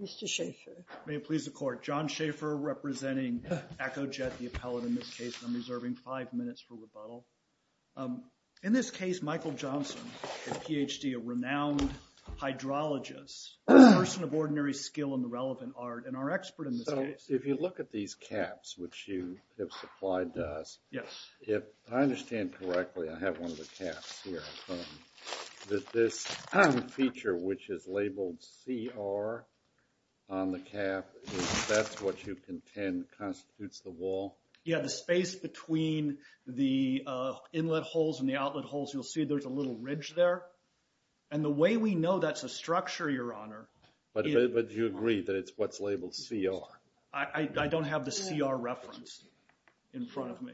Mr. Schafer. May it please the Court. John Schafer representing EchoJet, the appellate in this case, and I'm reserving five minutes for rebuttal. In this case, Michael Johnson, a Ph.D., a renowned hydrologist, a person of ordinary skill in the relevant art, and our expert in this case. So, if you look at these caps, which you have supplied to us, if I understand correctly, I have one of the caps here in front of me, that this feature, which is labeled CR on the cap, if that's what you contend constitutes the wall? Yeah, the space between the inlet holes and the outlet holes, you'll see there's a little ridge there. And the way we know that's a structure, Your Honor... But you agree that it's what's labeled CR? I don't have the CR reference in front of me.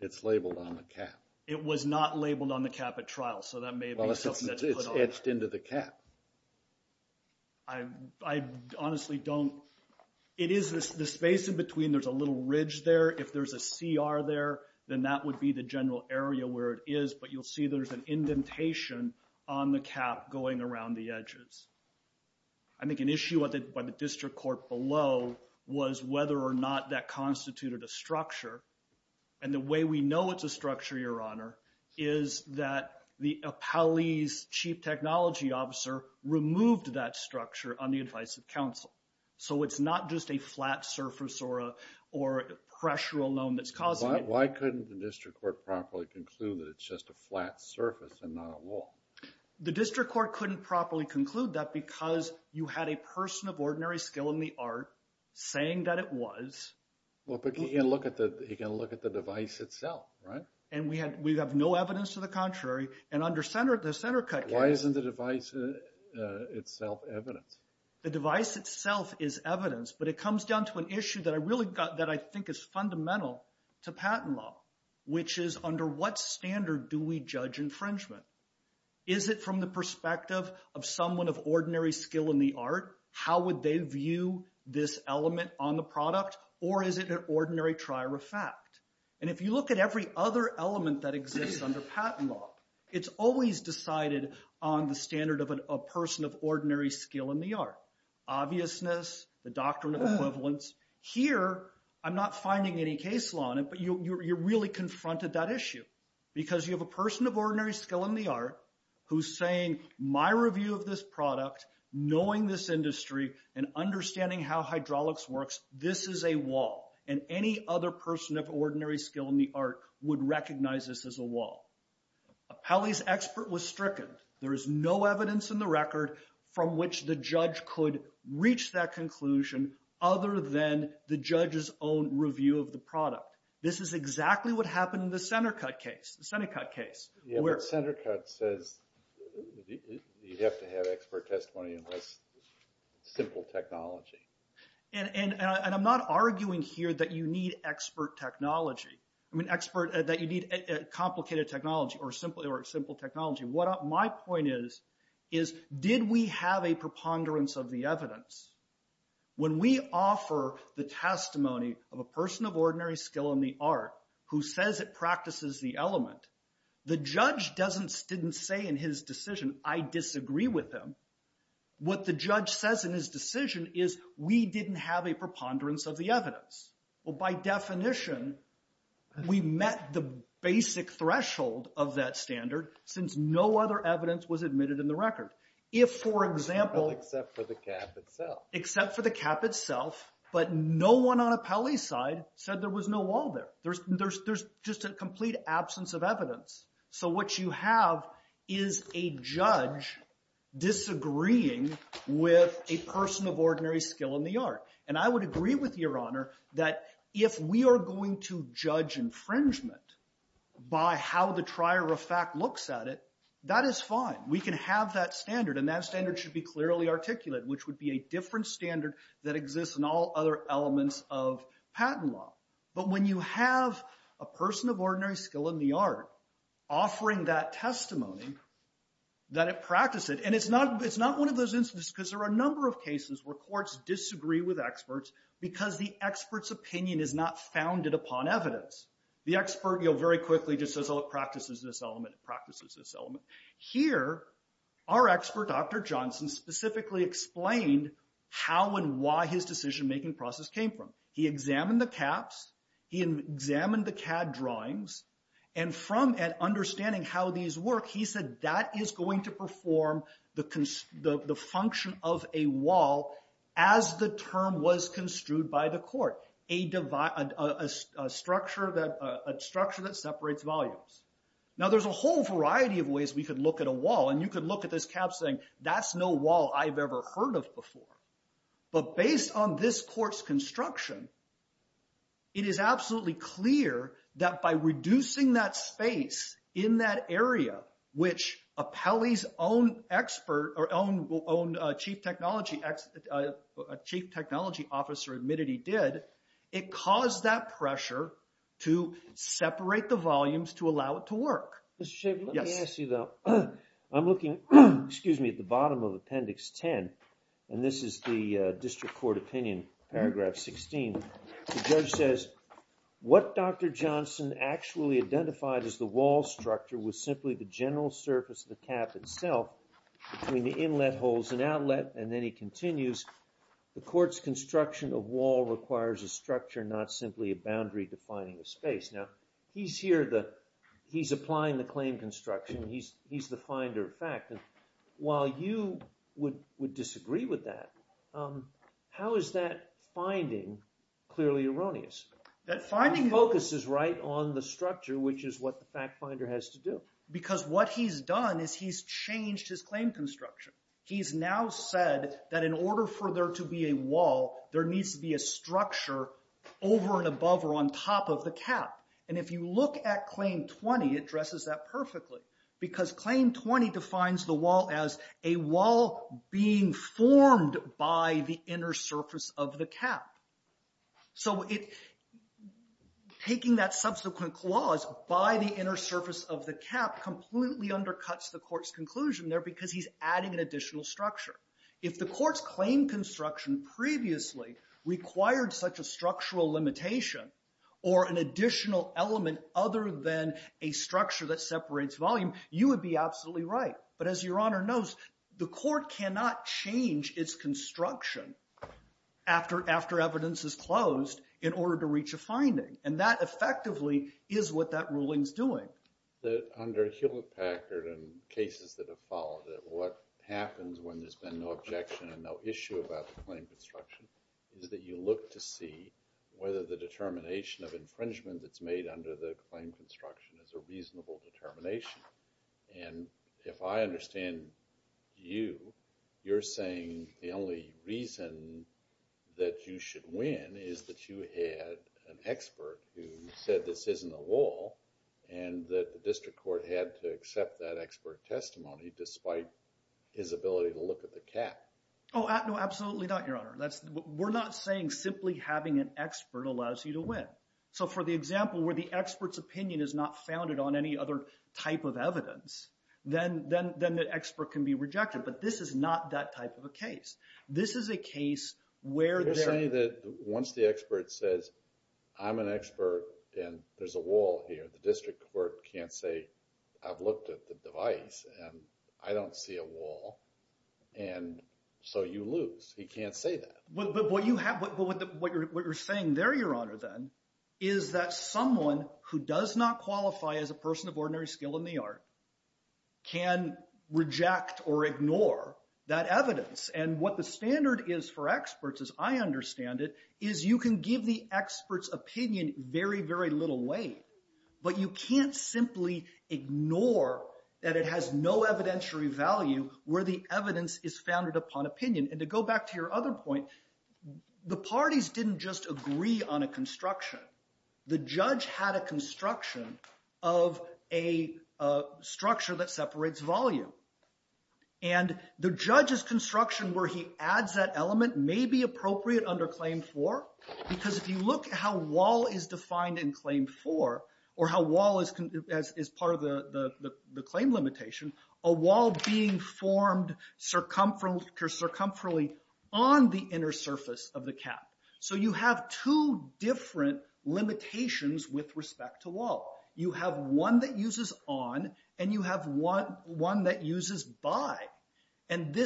It's labeled on the cap. It was not labeled on the cap at trial, so that may be something that's put on. Well, it's etched into the cap. I honestly don't... It is the space in between, there's a little ridge there. If there's a CR there, then that would be the general area where it is. But you'll see there's an indentation on the cap going around the edges. I think an issue by the district court below was whether or not that constituted a structure. And the way we know it's a structure, Your Honor, is that the appellee's chief technology officer removed that structure on the advice of counsel. So it's not just a flat surface or a pressure alone that's causing it. Why couldn't the district court properly conclude that it's just a flat surface and not a wall? The district court couldn't properly conclude that because you had a person of ordinary skill in the art saying that it was. Well, but you can look at the device itself, right? And we have no evidence to the contrary. And under the center cut case... Why isn't the device itself evidence? The device itself is evidence, but it comes down to an issue that I think is fundamental to patent law, which is under what standard do we judge infringement? Is it from the perspective of someone of ordinary skill in the art? How would they view this element on the product? Or is it an ordinary trier of fact? And if you look at every other element that exists under patent law, it's always decided on the standard of a person of ordinary skill in the art. Obviousness, the doctrine of equivalence. Here, I'm not finding any case law on it, but you're really confronted that issue because you have a person of ordinary skill in the art who's saying, my review of this product, knowing this industry, and understanding how hydraulics works, this is a wall. And any other person of ordinary skill in the art would recognize this as a wall. A Pelley's expert was stricken. There is no evidence in the record from which the judge could reach that conclusion other than the judge's own review of the product. This is exactly what happened in the center cut case. The center cut case. Yeah, but center cut says you have to have expert testimony in less simple technology. And I'm not arguing here that you need expert technology. I'm an expert that you need complicated technology or simple technology. What my point is, is did we have a preponderance of the evidence? When we offer the testimony of a person of ordinary skill in the art who says it practices the element, the judge didn't say in his decision, I disagree with him. What the judge says in his decision is we didn't have a preponderance of the evidence. Well, by definition, we met the basic threshold of that standard since no other evidence was admitted in the record. If for example, except for the cap itself, but no one on a Pelley's side said there was no wall there. There's just a complete absence of evidence. So what you have is a judge disagreeing with a person of ordinary skill in the art. And I would agree with your honor that if we are going to judge infringement by how the trier of fact looks at it, that is fine. We can have that standard and that standard should be clearly articulate, which would be a different standard that exists in all other elements of patent law. But when you have a person of ordinary skill in the art offering that testimony that it practiced it, and it's not one of those instances because there are a number of cases where there are a number of experts, because the expert's opinion is not founded upon evidence. The expert very quickly just says, oh, it practices this element, it practices this element. Here, our expert, Dr. Johnson, specifically explained how and why his decision-making process came from. He examined the caps, he examined the CAD drawings, and from an understanding how these work, he said that is going to perform the function of a wall as the term was construed by the court, a structure that separates volumes. Now there's a whole variety of ways we could look at a wall, and you could look at this cap saying, that's no wall I've ever heard of before. But based on this court's construction, it is absolutely clear that by reducing that area, which Apelli's own chief technology officer admitted he did, it caused that pressure to separate the volumes to allow it to work. Mr. Shaver, let me ask you though, I'm looking at the bottom of Appendix 10, and this is the District Court Opinion, Paragraph 16, the judge says, what Dr. Johnson actually identified as the wall structure was simply the general surface of the cap itself between the inlet holes and outlet, and then he continues, the court's construction of wall requires a structure, not simply a boundary defining a space. Now he's here, he's applying the claim construction, he's the finder of fact, and while you would disagree with that, how is that finding clearly erroneous? That finding focuses right on the structure, which is what the fact finder has to do. Because what he's done is he's changed his claim construction. He's now said that in order for there to be a wall, there needs to be a structure over and above or on top of the cap. And if you look at Claim 20, it dresses that perfectly. Because Claim 20 defines the wall as a wall being formed by the inner surface of the cap. So taking that subsequent clause by the inner surface of the cap completely undercuts the court's conclusion there because he's adding an additional structure. If the court's claim construction previously required such a structural limitation or an additional element other than a structure that separates volume, you would be absolutely right. But as Your Honor knows, the court cannot change its construction after evidence is closed in order to reach a finding. And that effectively is what that ruling's doing. Under Hewlett-Packard and cases that have followed it, what happens when there's been no objection and no issue about the claim construction is that you look to see whether the determination of infringement that's made under the claim construction is a reasonable determination. And if I understand you, you're saying the only reason that you should win is that you had an expert who said this isn't a wall and that the district court had to accept that expert testimony despite his ability to look at the cap. Oh, no, absolutely not, Your Honor. We're not saying simply having an expert allows you to win. So for the example where the expert's opinion is not founded on any other type of evidence, then the expert can be rejected. But this is not that type of a case. This is a case where there— You're saying that once the expert says I'm an expert and there's a wall here, the district court can't say I've looked at the device and I don't see a wall, and so you lose. He can't say that. But what you're saying there, Your Honor, then, is that someone who does not qualify as a person of ordinary skill in the art can reject or ignore that evidence. And what the standard is for experts, as I understand it, is you can give the expert's opinion very, very little weight. But you can't simply ignore that it has no evidentiary value where the evidence is founded upon opinion. And to go back to your other point, the parties didn't just agree on a construction. The judge had a construction of a structure that separates volume. And the judge's construction where he adds that element may be appropriate under Claim 4 because if you look at how wall is defined in Claim 4 or how wall is part of the claim limitation, a wall being formed circumferentially on the inner surface of the cap. So you have two different limitations with respect to wall. You have one that uses on, and you have one that uses by. And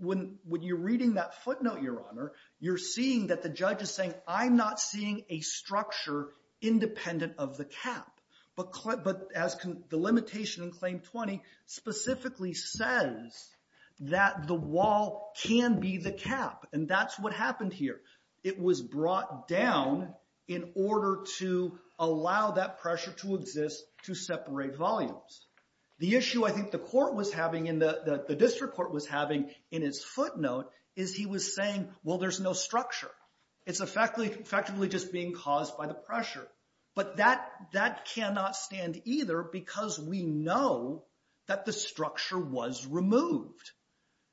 when you're reading that footnote, Your Honor, you're seeing that the judge is saying I'm not seeing a structure independent of the cap. But the limitation in Claim 20 specifically says that the wall can be the cap. And that's what happened here. It was brought down in order to allow that pressure to exist to separate volumes. The issue I think the district court was having in its footnote is he was saying, well, there's no structure. It's effectively just being caused by the pressure. But that cannot stand either because we know that the structure was removed.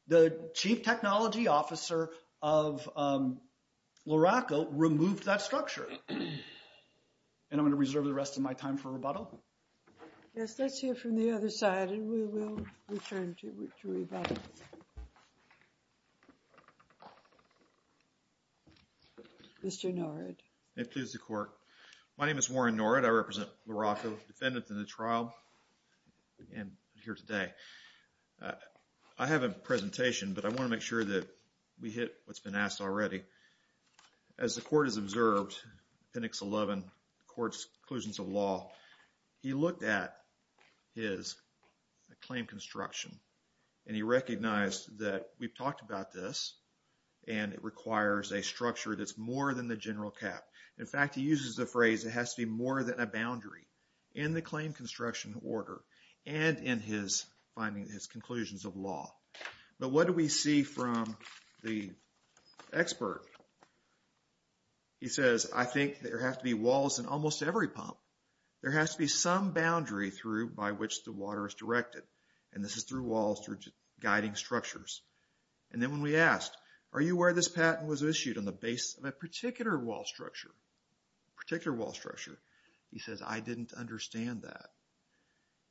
The chief technology officer of Loraco removed that structure. And I'm going to reserve the rest of my time for rebuttal. Yes, let's hear from the other side and we will return to rebuttal. Mr. Norwood. It pleases the court. My name is Warren Norwood. I represent Loraco, defendant in the trial, and I'm here today. I have a presentation, but I want to make sure that we hit what's been asked already. As the court has observed, Penix 11, the court's conclusions of law, he looked at his claim construction and he recognized that we've talked about this and it requires a structure that's more than the general cap. In fact, he uses the phrase, it has to be more than a boundary in the claim construction order and in his findings, his conclusions of law. But what do we see from the expert? He says, I think there have to be walls in almost every pump. There has to be some boundary through by which the water is directed. And this is through walls, through guiding structures. And then when we asked, are you aware this patent was issued on the base of a particular wall structure, particular wall structure, he says, I didn't understand that.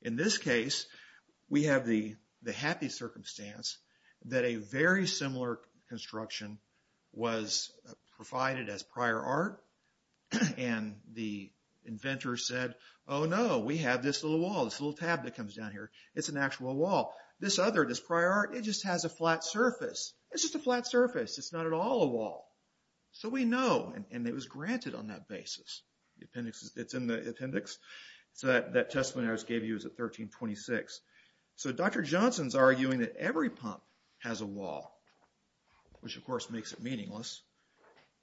In this case, we have the happy circumstance that a very similar construction was provided as prior art and the inventor said, oh no, we have this little wall, this little tab that comes down here. It's an actual wall. This other, this prior art, it just has a flat surface. It's just a flat surface. It's not at all a wall. So we know and it was granted on that basis. It's in the appendix. So that testimony I just gave you is at 1326. So Dr. Johnson's arguing that every pump has a wall, which of course makes it meaningless.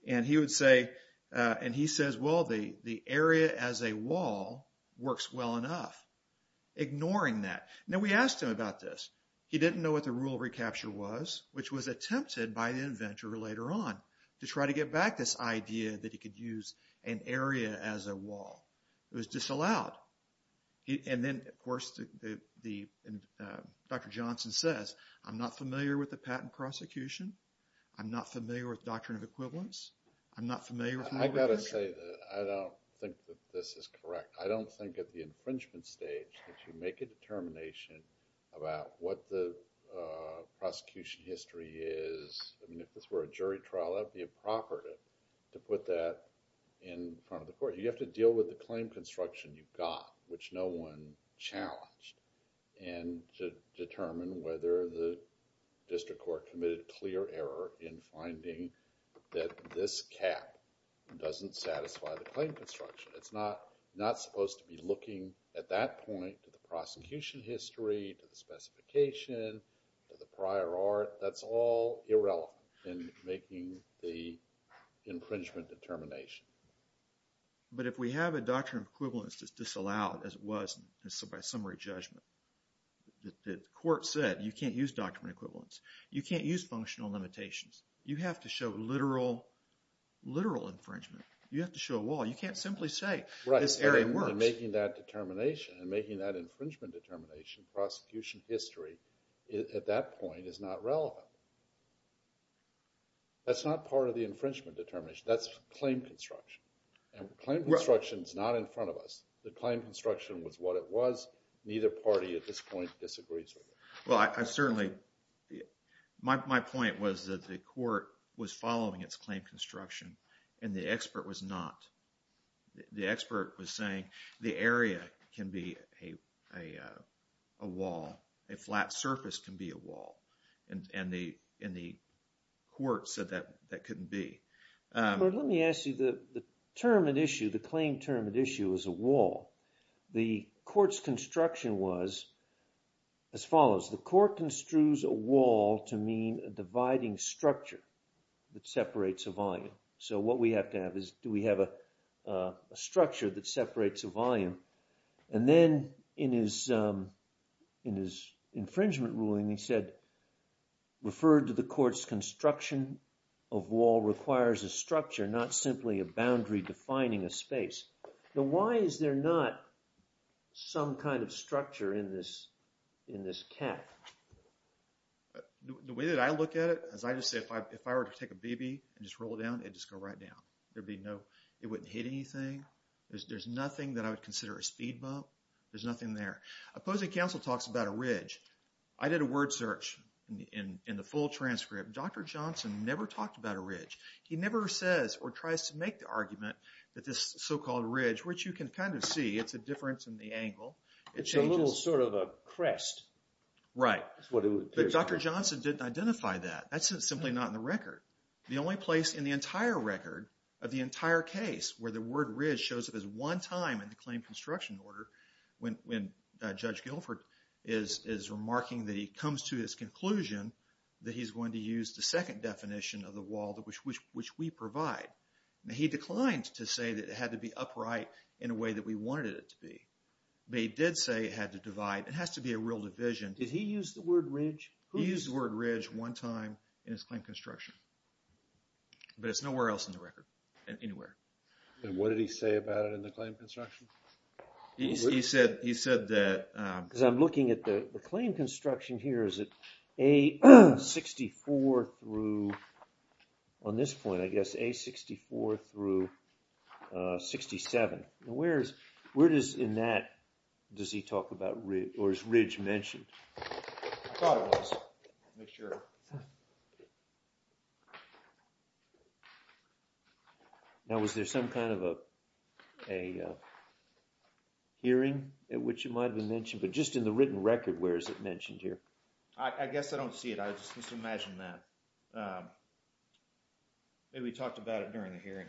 And he would say, and he says, well, the area as a wall works well enough, ignoring that. And then we asked him about this. He didn't know what the rule of recapture was, which was attempted by the inventor later on to try to get back this idea that he could use an area as a wall. It was disallowed. And then of course, Dr. Johnson says, I'm not familiar with the patent prosecution. I'm not familiar with doctrine of equivalence. I'm not familiar. I've got to say that I don't think that this is correct. I don't think at the infringement stage that you make a determination about what the prosecution history is. I mean, if this were a jury trial, that would be a property to put that in front of the court. You have to deal with the claim construction you've got, which no one challenged, and to determine whether the district court committed clear error in finding that this cap doesn't satisfy the claim construction. It's not supposed to be looking at that point to the prosecution history, to the specification, to the prior art. That's all irrelevant in making the infringement determination. But if we have a doctrine of equivalence that's disallowed, as it was by summary judgment, the court said, you can't use doctrine of equivalence. You can't use functional limitations. You have to show literal infringement. You have to show a wall. You can't simply say, this area works. And making that determination, and making that infringement determination, prosecution history, at that point is not relevant. That's not part of the infringement determination. That's claim construction. And claim construction is not in front of us. The claim construction was what it was. Neither party at this point disagrees with it. Well, I certainly, my point was that the court was following its claim construction, and the expert was not. The expert was saying, the area can be a wall. A flat surface can be a wall. And the court said that that couldn't be. But let me ask you, the term at issue, the claim term at issue is a wall. The court's construction was as follows. The court construes a wall to mean a dividing structure that separates a volume. So what we have to have is, do we have a structure that separates a volume? And then in his infringement ruling, he said, referred to the court's construction of wall requires a structure, not simply a boundary defining a space. Now why is there not some kind of structure in this cap? The way that I look at it, as I just said, if I were to take a BB and just roll it down, it'd just go right down. There'd be no, it wouldn't hit anything. There's nothing that I would consider a speed bump. There's nothing there. Opposing counsel talks about a ridge. I did a word search in the full transcript. Dr. Johnson never talked about a ridge. He never says or tries to make the argument that this so-called ridge, which you can kind of see, it's a difference in the angle. It's a little sort of a crest. Right. But Dr. Johnson didn't identify that. That's simply not in the record. The only place in the entire record of the entire case where the word ridge shows up as one time in the claim construction order when Judge Guilford is remarking that he comes to his conclusion that he's going to use the second definition of the wall which we provide. He declined to say that it had to be upright in a way that we wanted it to be. But he did say it had to divide. It has to be a real division. Did he use the word ridge? He used the word ridge one time in his claim construction. But it's nowhere else in the record, anywhere. And what did he say about it in the claim construction? He said that... As I'm looking at the claim construction here, is it A64 through... On this point, I guess, A64 through 67. Now, where does in that, does he talk about ridge or is ridge mentioned? I thought it was. Make sure. Now, was there some kind of a hearing at which it might have been mentioned? But just in the written record, where is it mentioned here? I guess I don't see it. I was just supposed to imagine that. Maybe we talked about it during the hearing.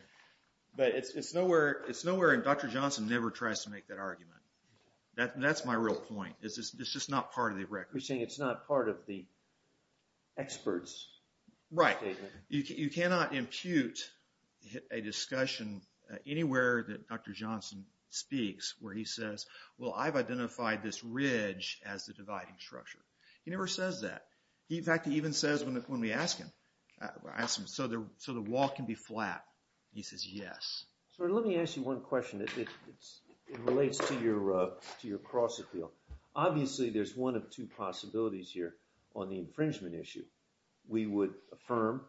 But it's nowhere, and Dr. Johnson never tries to make that argument. That's my real point. It's just not part of the record. You're saying it's not part of the expert's statement? Right. You cannot impute a discussion anywhere that Dr. Johnson speaks where he says, well, I've identified this ridge as the dividing structure. He never says that. In fact, he even says when we ask him, so the wall can be flat, he says yes. Sir, let me ask you one question that relates to your cross-appeal. Obviously, there's one of two possibilities here on the infringement issue. We would affirm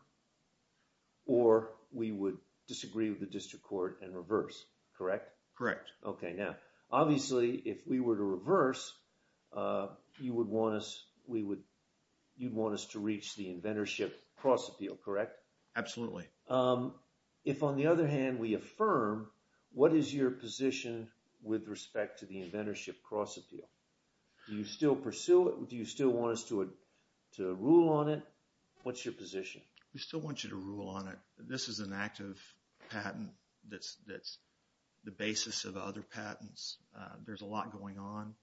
or we would disagree with the district court and reverse, correct? Correct. Okay, now, obviously, if we were to reverse, you would want us to reach the inventorship cross-appeal, correct? Absolutely. If, on the other hand, we affirm, what is your position with respect to the inventorship cross-appeal? Do you still pursue it? Do you still want us to rule on it? What's your position? We still want you to rule on it. This is an active patent that's the basis of other patents. There's a lot going on.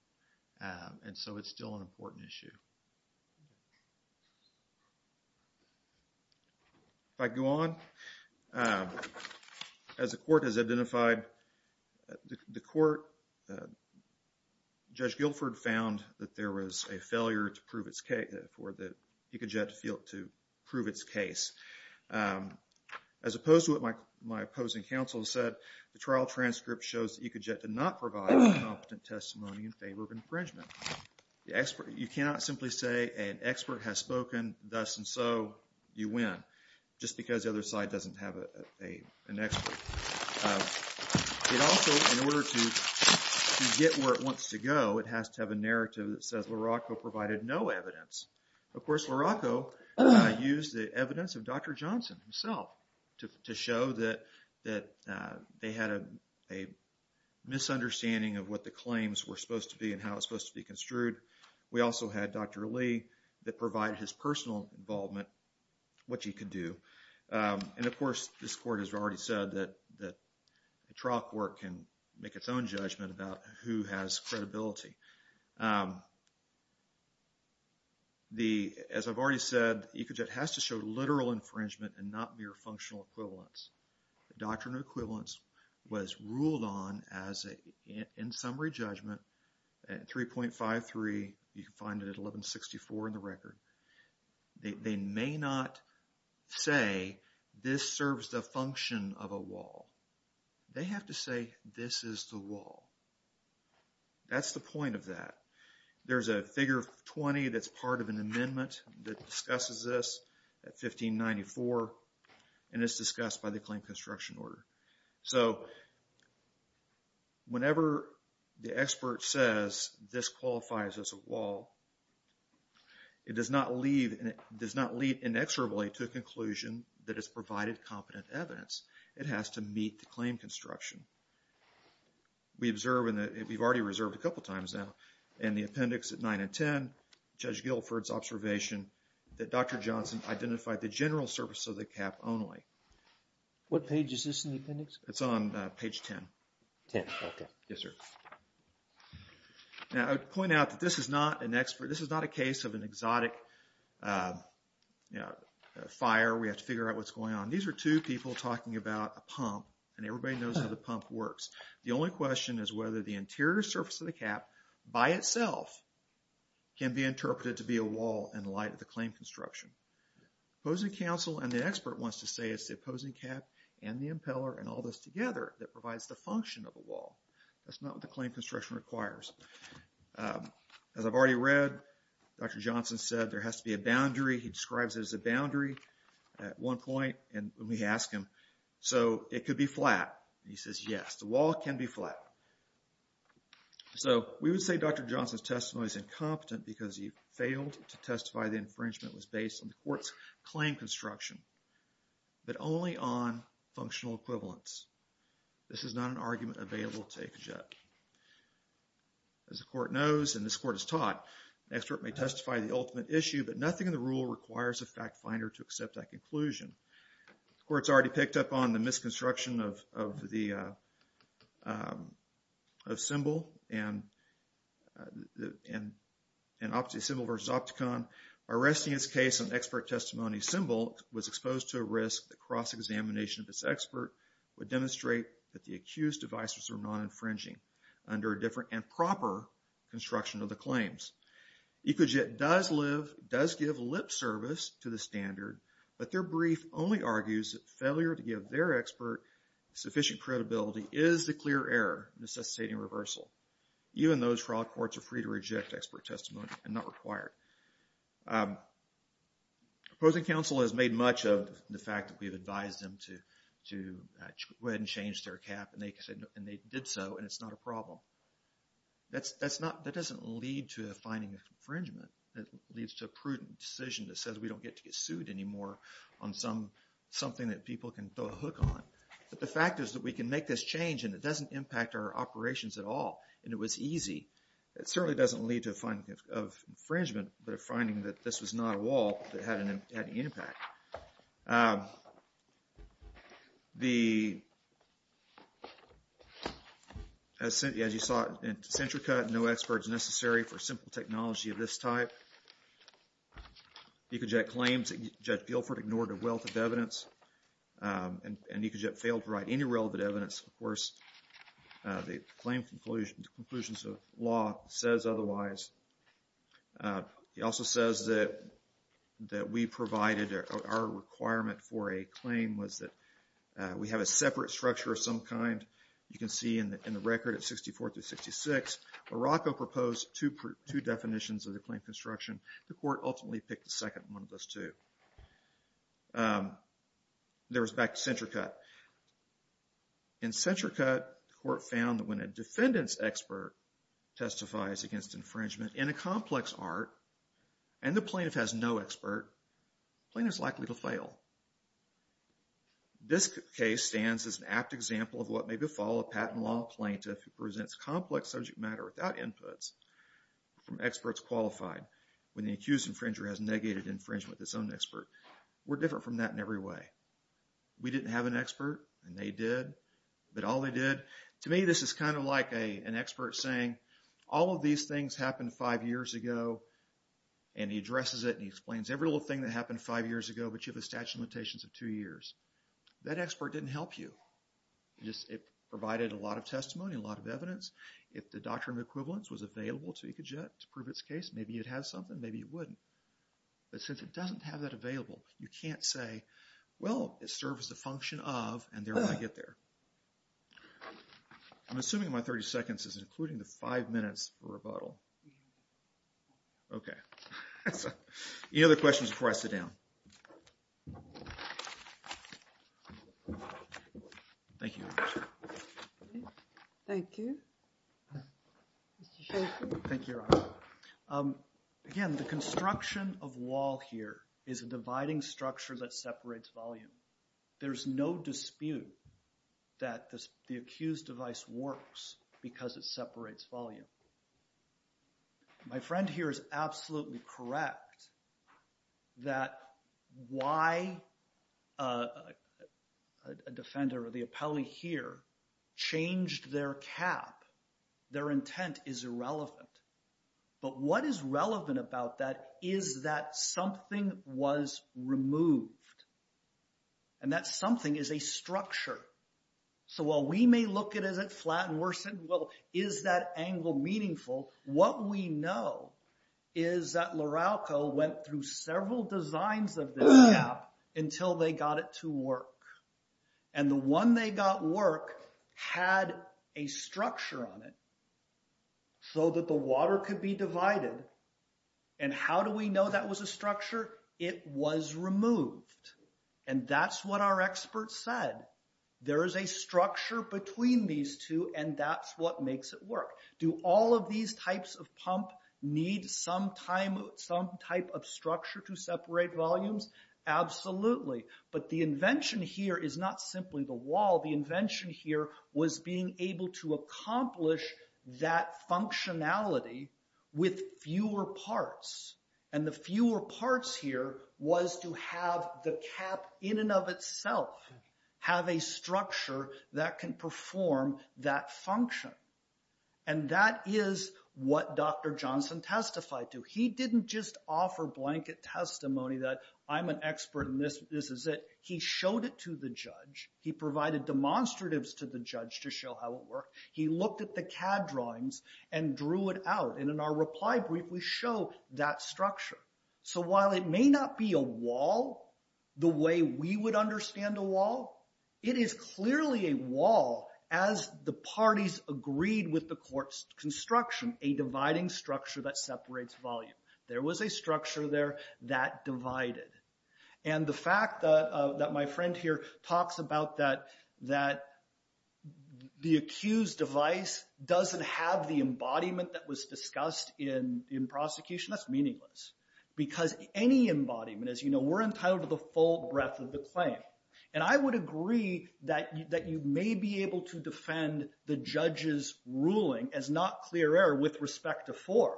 And so, it's still an important issue. If I go on, as the court has identified, the court, Judge Guilford found that there was a failure for the Ecojet to prove its case. As opposed to what my opposing counsel said, the trial transcript shows that Ecojet did not provide a competent testimony in favor of infringement. You cannot simply say an expert has spoken, thus and so, you win, just because the other side doesn't have an expert. It also, in order to get where it wants to go, it has to have a narrative that says LaRocco provided no evidence. Of course, LaRocco used the evidence of Dr. Johnson himself to show that they had a misunderstanding of what the claims were supposed to be and how it was supposed to be construed. We also had Dr. Lee that provided his personal involvement, what you can do. And, of course, this court has already said that the trial court can make its own judgment about who has credibility. As I've already said, Ecojet has to show literal infringement and not mere functional equivalence. The doctrine of equivalence was ruled on as an in summary judgment at 3.53, you can find it at 1164 in the record. They may not say this serves the function of a wall. They have to say this is the wall. That's the point of that. There's a figure of 20 that's part of an amendment that discusses this at 1594 and it's discussed by the Claim Construction Order. So, whenever the expert says this qualifies as a wall, it does not lead inexorably to a conclusion that it's provided competent evidence. It has to meet the claim construction. We observe, and we've already reserved a couple times now, in the appendix at 9 and 10, Judge Guilford's observation that Dr. Johnson identified the general surface of the cap only. What page is this in the appendix? It's on page 10. 10, okay. Yes, sir. Now, I would point out that this is not an expert, this is not a case of an exotic fire, we have to figure out what's going on. These are two people talking about a pump and everybody knows how the pump works. The only question is whether the interior surface of the cap, by itself, can be interpreted to be a wall in light of the claim construction. The opposing counsel and the expert wants to say it's the opposing cap and the impeller and all this together that provides the function of a wall. That's not what the claim construction requires. As I've already read, Dr. Johnson said there has to be a boundary. He describes it as a boundary at one point when we ask him, so it could be flat. He says, yes, the wall can be flat. So we would say Dr. Johnson's testimony is incompetent because he failed to testify the court's claim construction, but only on functional equivalents. This is not an argument available to a judge. As the court knows, and this court has taught, an expert may testify to the ultimate issue but nothing in the rule requires a fact finder to accept that conclusion. The court's already picked up on the misconstruction of symbol and symbol versus opticon. Arresting this case on expert testimony symbol was exposed to a risk that cross-examination of this expert would demonstrate that the accused advisors are non-infringing under a different and proper construction of the claims. Ecojet does give lip service to the standard, but their brief only argues that failure to give their expert sufficient credibility is the clear error necessitating reversal, even though fraud courts are free to reject expert testimony and not required. Opposing counsel has made much of the fact that we've advised them to go ahead and change their cap, and they did so, and it's not a problem. That doesn't lead to a finding of infringement. It leads to a prudent decision that says we don't get to get sued anymore on something that people can throw a hook on, but the fact is that we can make this change and it doesn't impact our operations at all, and it was easy. It certainly doesn't lead to a finding of infringement, but a finding that this was not a wall that had an impact. As you saw in Centrica, no expert is necessary for simple technology of this type. Ecojet claims that Judge Guilford ignored a wealth of evidence, and Ecojet failed to provide relevant evidence. Of course, the claim conclusions of law says otherwise. He also says that we provided our requirement for a claim was that we have a separate structure of some kind. You can see in the record at 64 through 66, Morocco proposed two definitions of the claim construction. The court ultimately picked the second one of those two. There was back to Centrica. In Centrica, the court found that when a defendant's expert testifies against infringement in a complex art and the plaintiff has no expert, the plaintiff is likely to fail. This case stands as an apt example of what may befall a patent law plaintiff who presents complex subject matter without inputs from experts qualified when the accused infringer has negated infringement with his own expert. We're different from that in every way. We didn't have an expert, and they did, but all they did... To me, this is kind of like an expert saying, all of these things happened five years ago, and he addresses it, and he explains every little thing that happened five years ago, but you have a statute of limitations of two years. That expert didn't help you. It provided a lot of testimony, a lot of evidence. If the doctrine of equivalence was available to Ecojet to prove its case, maybe it has something, maybe it wouldn't. But since it doesn't have that available, you can't say, well, it serves the function of, and therefore I get there. I'm assuming my 30 seconds is including the five minutes for rebuttal. Okay. Any other questions before I sit down? Thank you. Mr. Shaffer. Thank you, Your Honor. Again, the construction of wall here is a dividing structure that separates volume. There's no dispute that the accused device works because it separates volume. My friend here is absolutely correct that why a defender or the appellee here changed their cap, their intent is irrelevant. But what is relevant about that is that something was removed, and that something is a structure. So while we may look at it as it flattened, worsened, well, is that angle meaningful? What we know is that LaRalco went through several designs of this cap until they got it to work. And the one they got work had a structure on it so that the water could be divided. And how do we know that was a structure? It was removed. And that's what our experts said. There's a structure between these two, and that's what makes it work. Do all of these types of pump need some type of structure to separate volumes? Absolutely. But the invention here is not simply the wall. The invention here was being able to accomplish that functionality with fewer parts. And the fewer parts here was to have the cap in and of itself have a structure that can perform that function. And that is what Dr. Johnson testified to. He didn't just offer blanket testimony that I'm an expert and this is it. He showed it to the judge. He provided demonstratives to the judge to show how it worked. He looked at the CAD drawings and drew it out. And in our reply brief, we show that structure. So while it may not be a wall the way we would understand a wall, it is clearly a wall as the parties agreed with the court's construction, a dividing structure that separates volume. There was a structure there that divided. And the fact that my friend here talks about that the accused device doesn't have the embodiment that was discussed in prosecution, that's meaningless. Because any embodiment, as you know, we're entitled to the full breadth of the claim. And I would agree that you may be able to defend the judge's ruling as not clear error with respect to 4,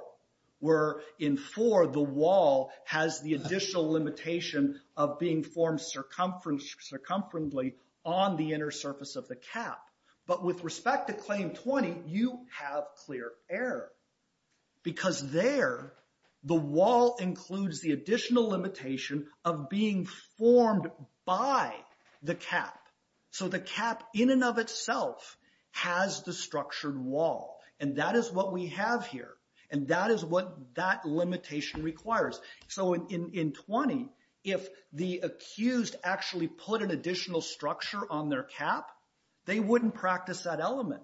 where in 4, the wall has the additional limitation of being formed circumferentially on the inner surface of the cap. But with respect to Claim 20, you have clear error. Because there, the wall includes the additional limitation of being formed by the cap. So the cap in and of itself has the structured wall. And that is what we have here. And that is what that limitation requires. So in 20, if the accused actually put an additional structure on their cap, they wouldn't practice that element.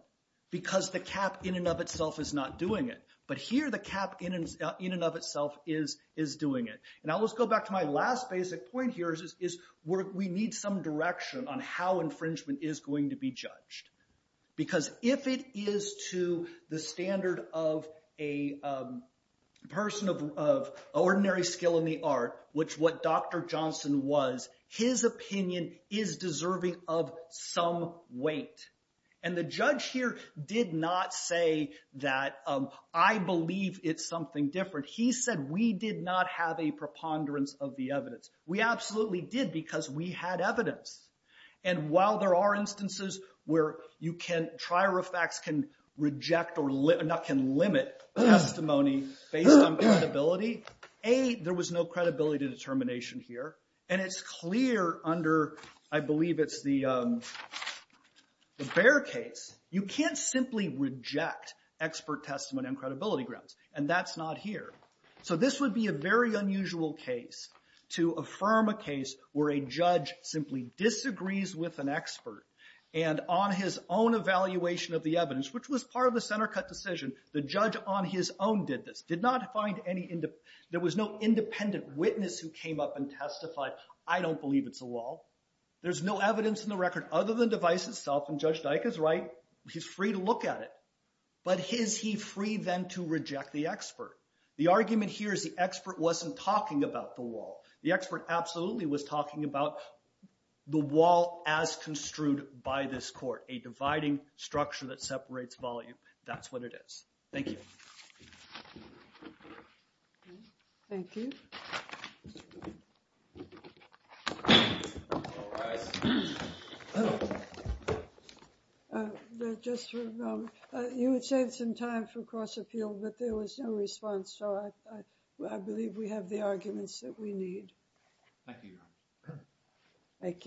Because the cap in and of itself is not doing it. But here, the cap in and of itself is doing it. Now, let's go back to my last basic point here is we need some direction on how infringement is going to be judged. Because if it is to the standard of a person of ordinary skill in the art, which what Dr. is deserving of some weight. And the judge here did not say that, I believe it's something different. He said, we did not have a preponderance of the evidence. We absolutely did, because we had evidence. And while there are instances where you can, trirofax can reject or not can limit testimony based on credibility, A, there was no credibility determination here. And it's clear under, I believe it's the Bear case. You can't simply reject expert testimony and credibility grounds. And that's not here. So this would be a very unusual case to affirm a case where a judge simply disagrees with an expert. And on his own evaluation of the evidence, which was part of the center cut decision, the judge on his own did this. There was no independent witness who came up and testified. I don't believe it's a wall. There's no evidence in the record other than the device itself. And Judge Dyka's right. He's free to look at it. But is he free then to reject the expert? The argument here is the expert wasn't talking about the wall. The expert absolutely was talking about the wall as construed by this court. A dividing structure that separates volume. That's what it is. Thank you. Thank you. Just for a moment. You would save some time for cross-appeal, but there was no response. So I believe we have the arguments that we need. Thank you, Your Honor. Thank you.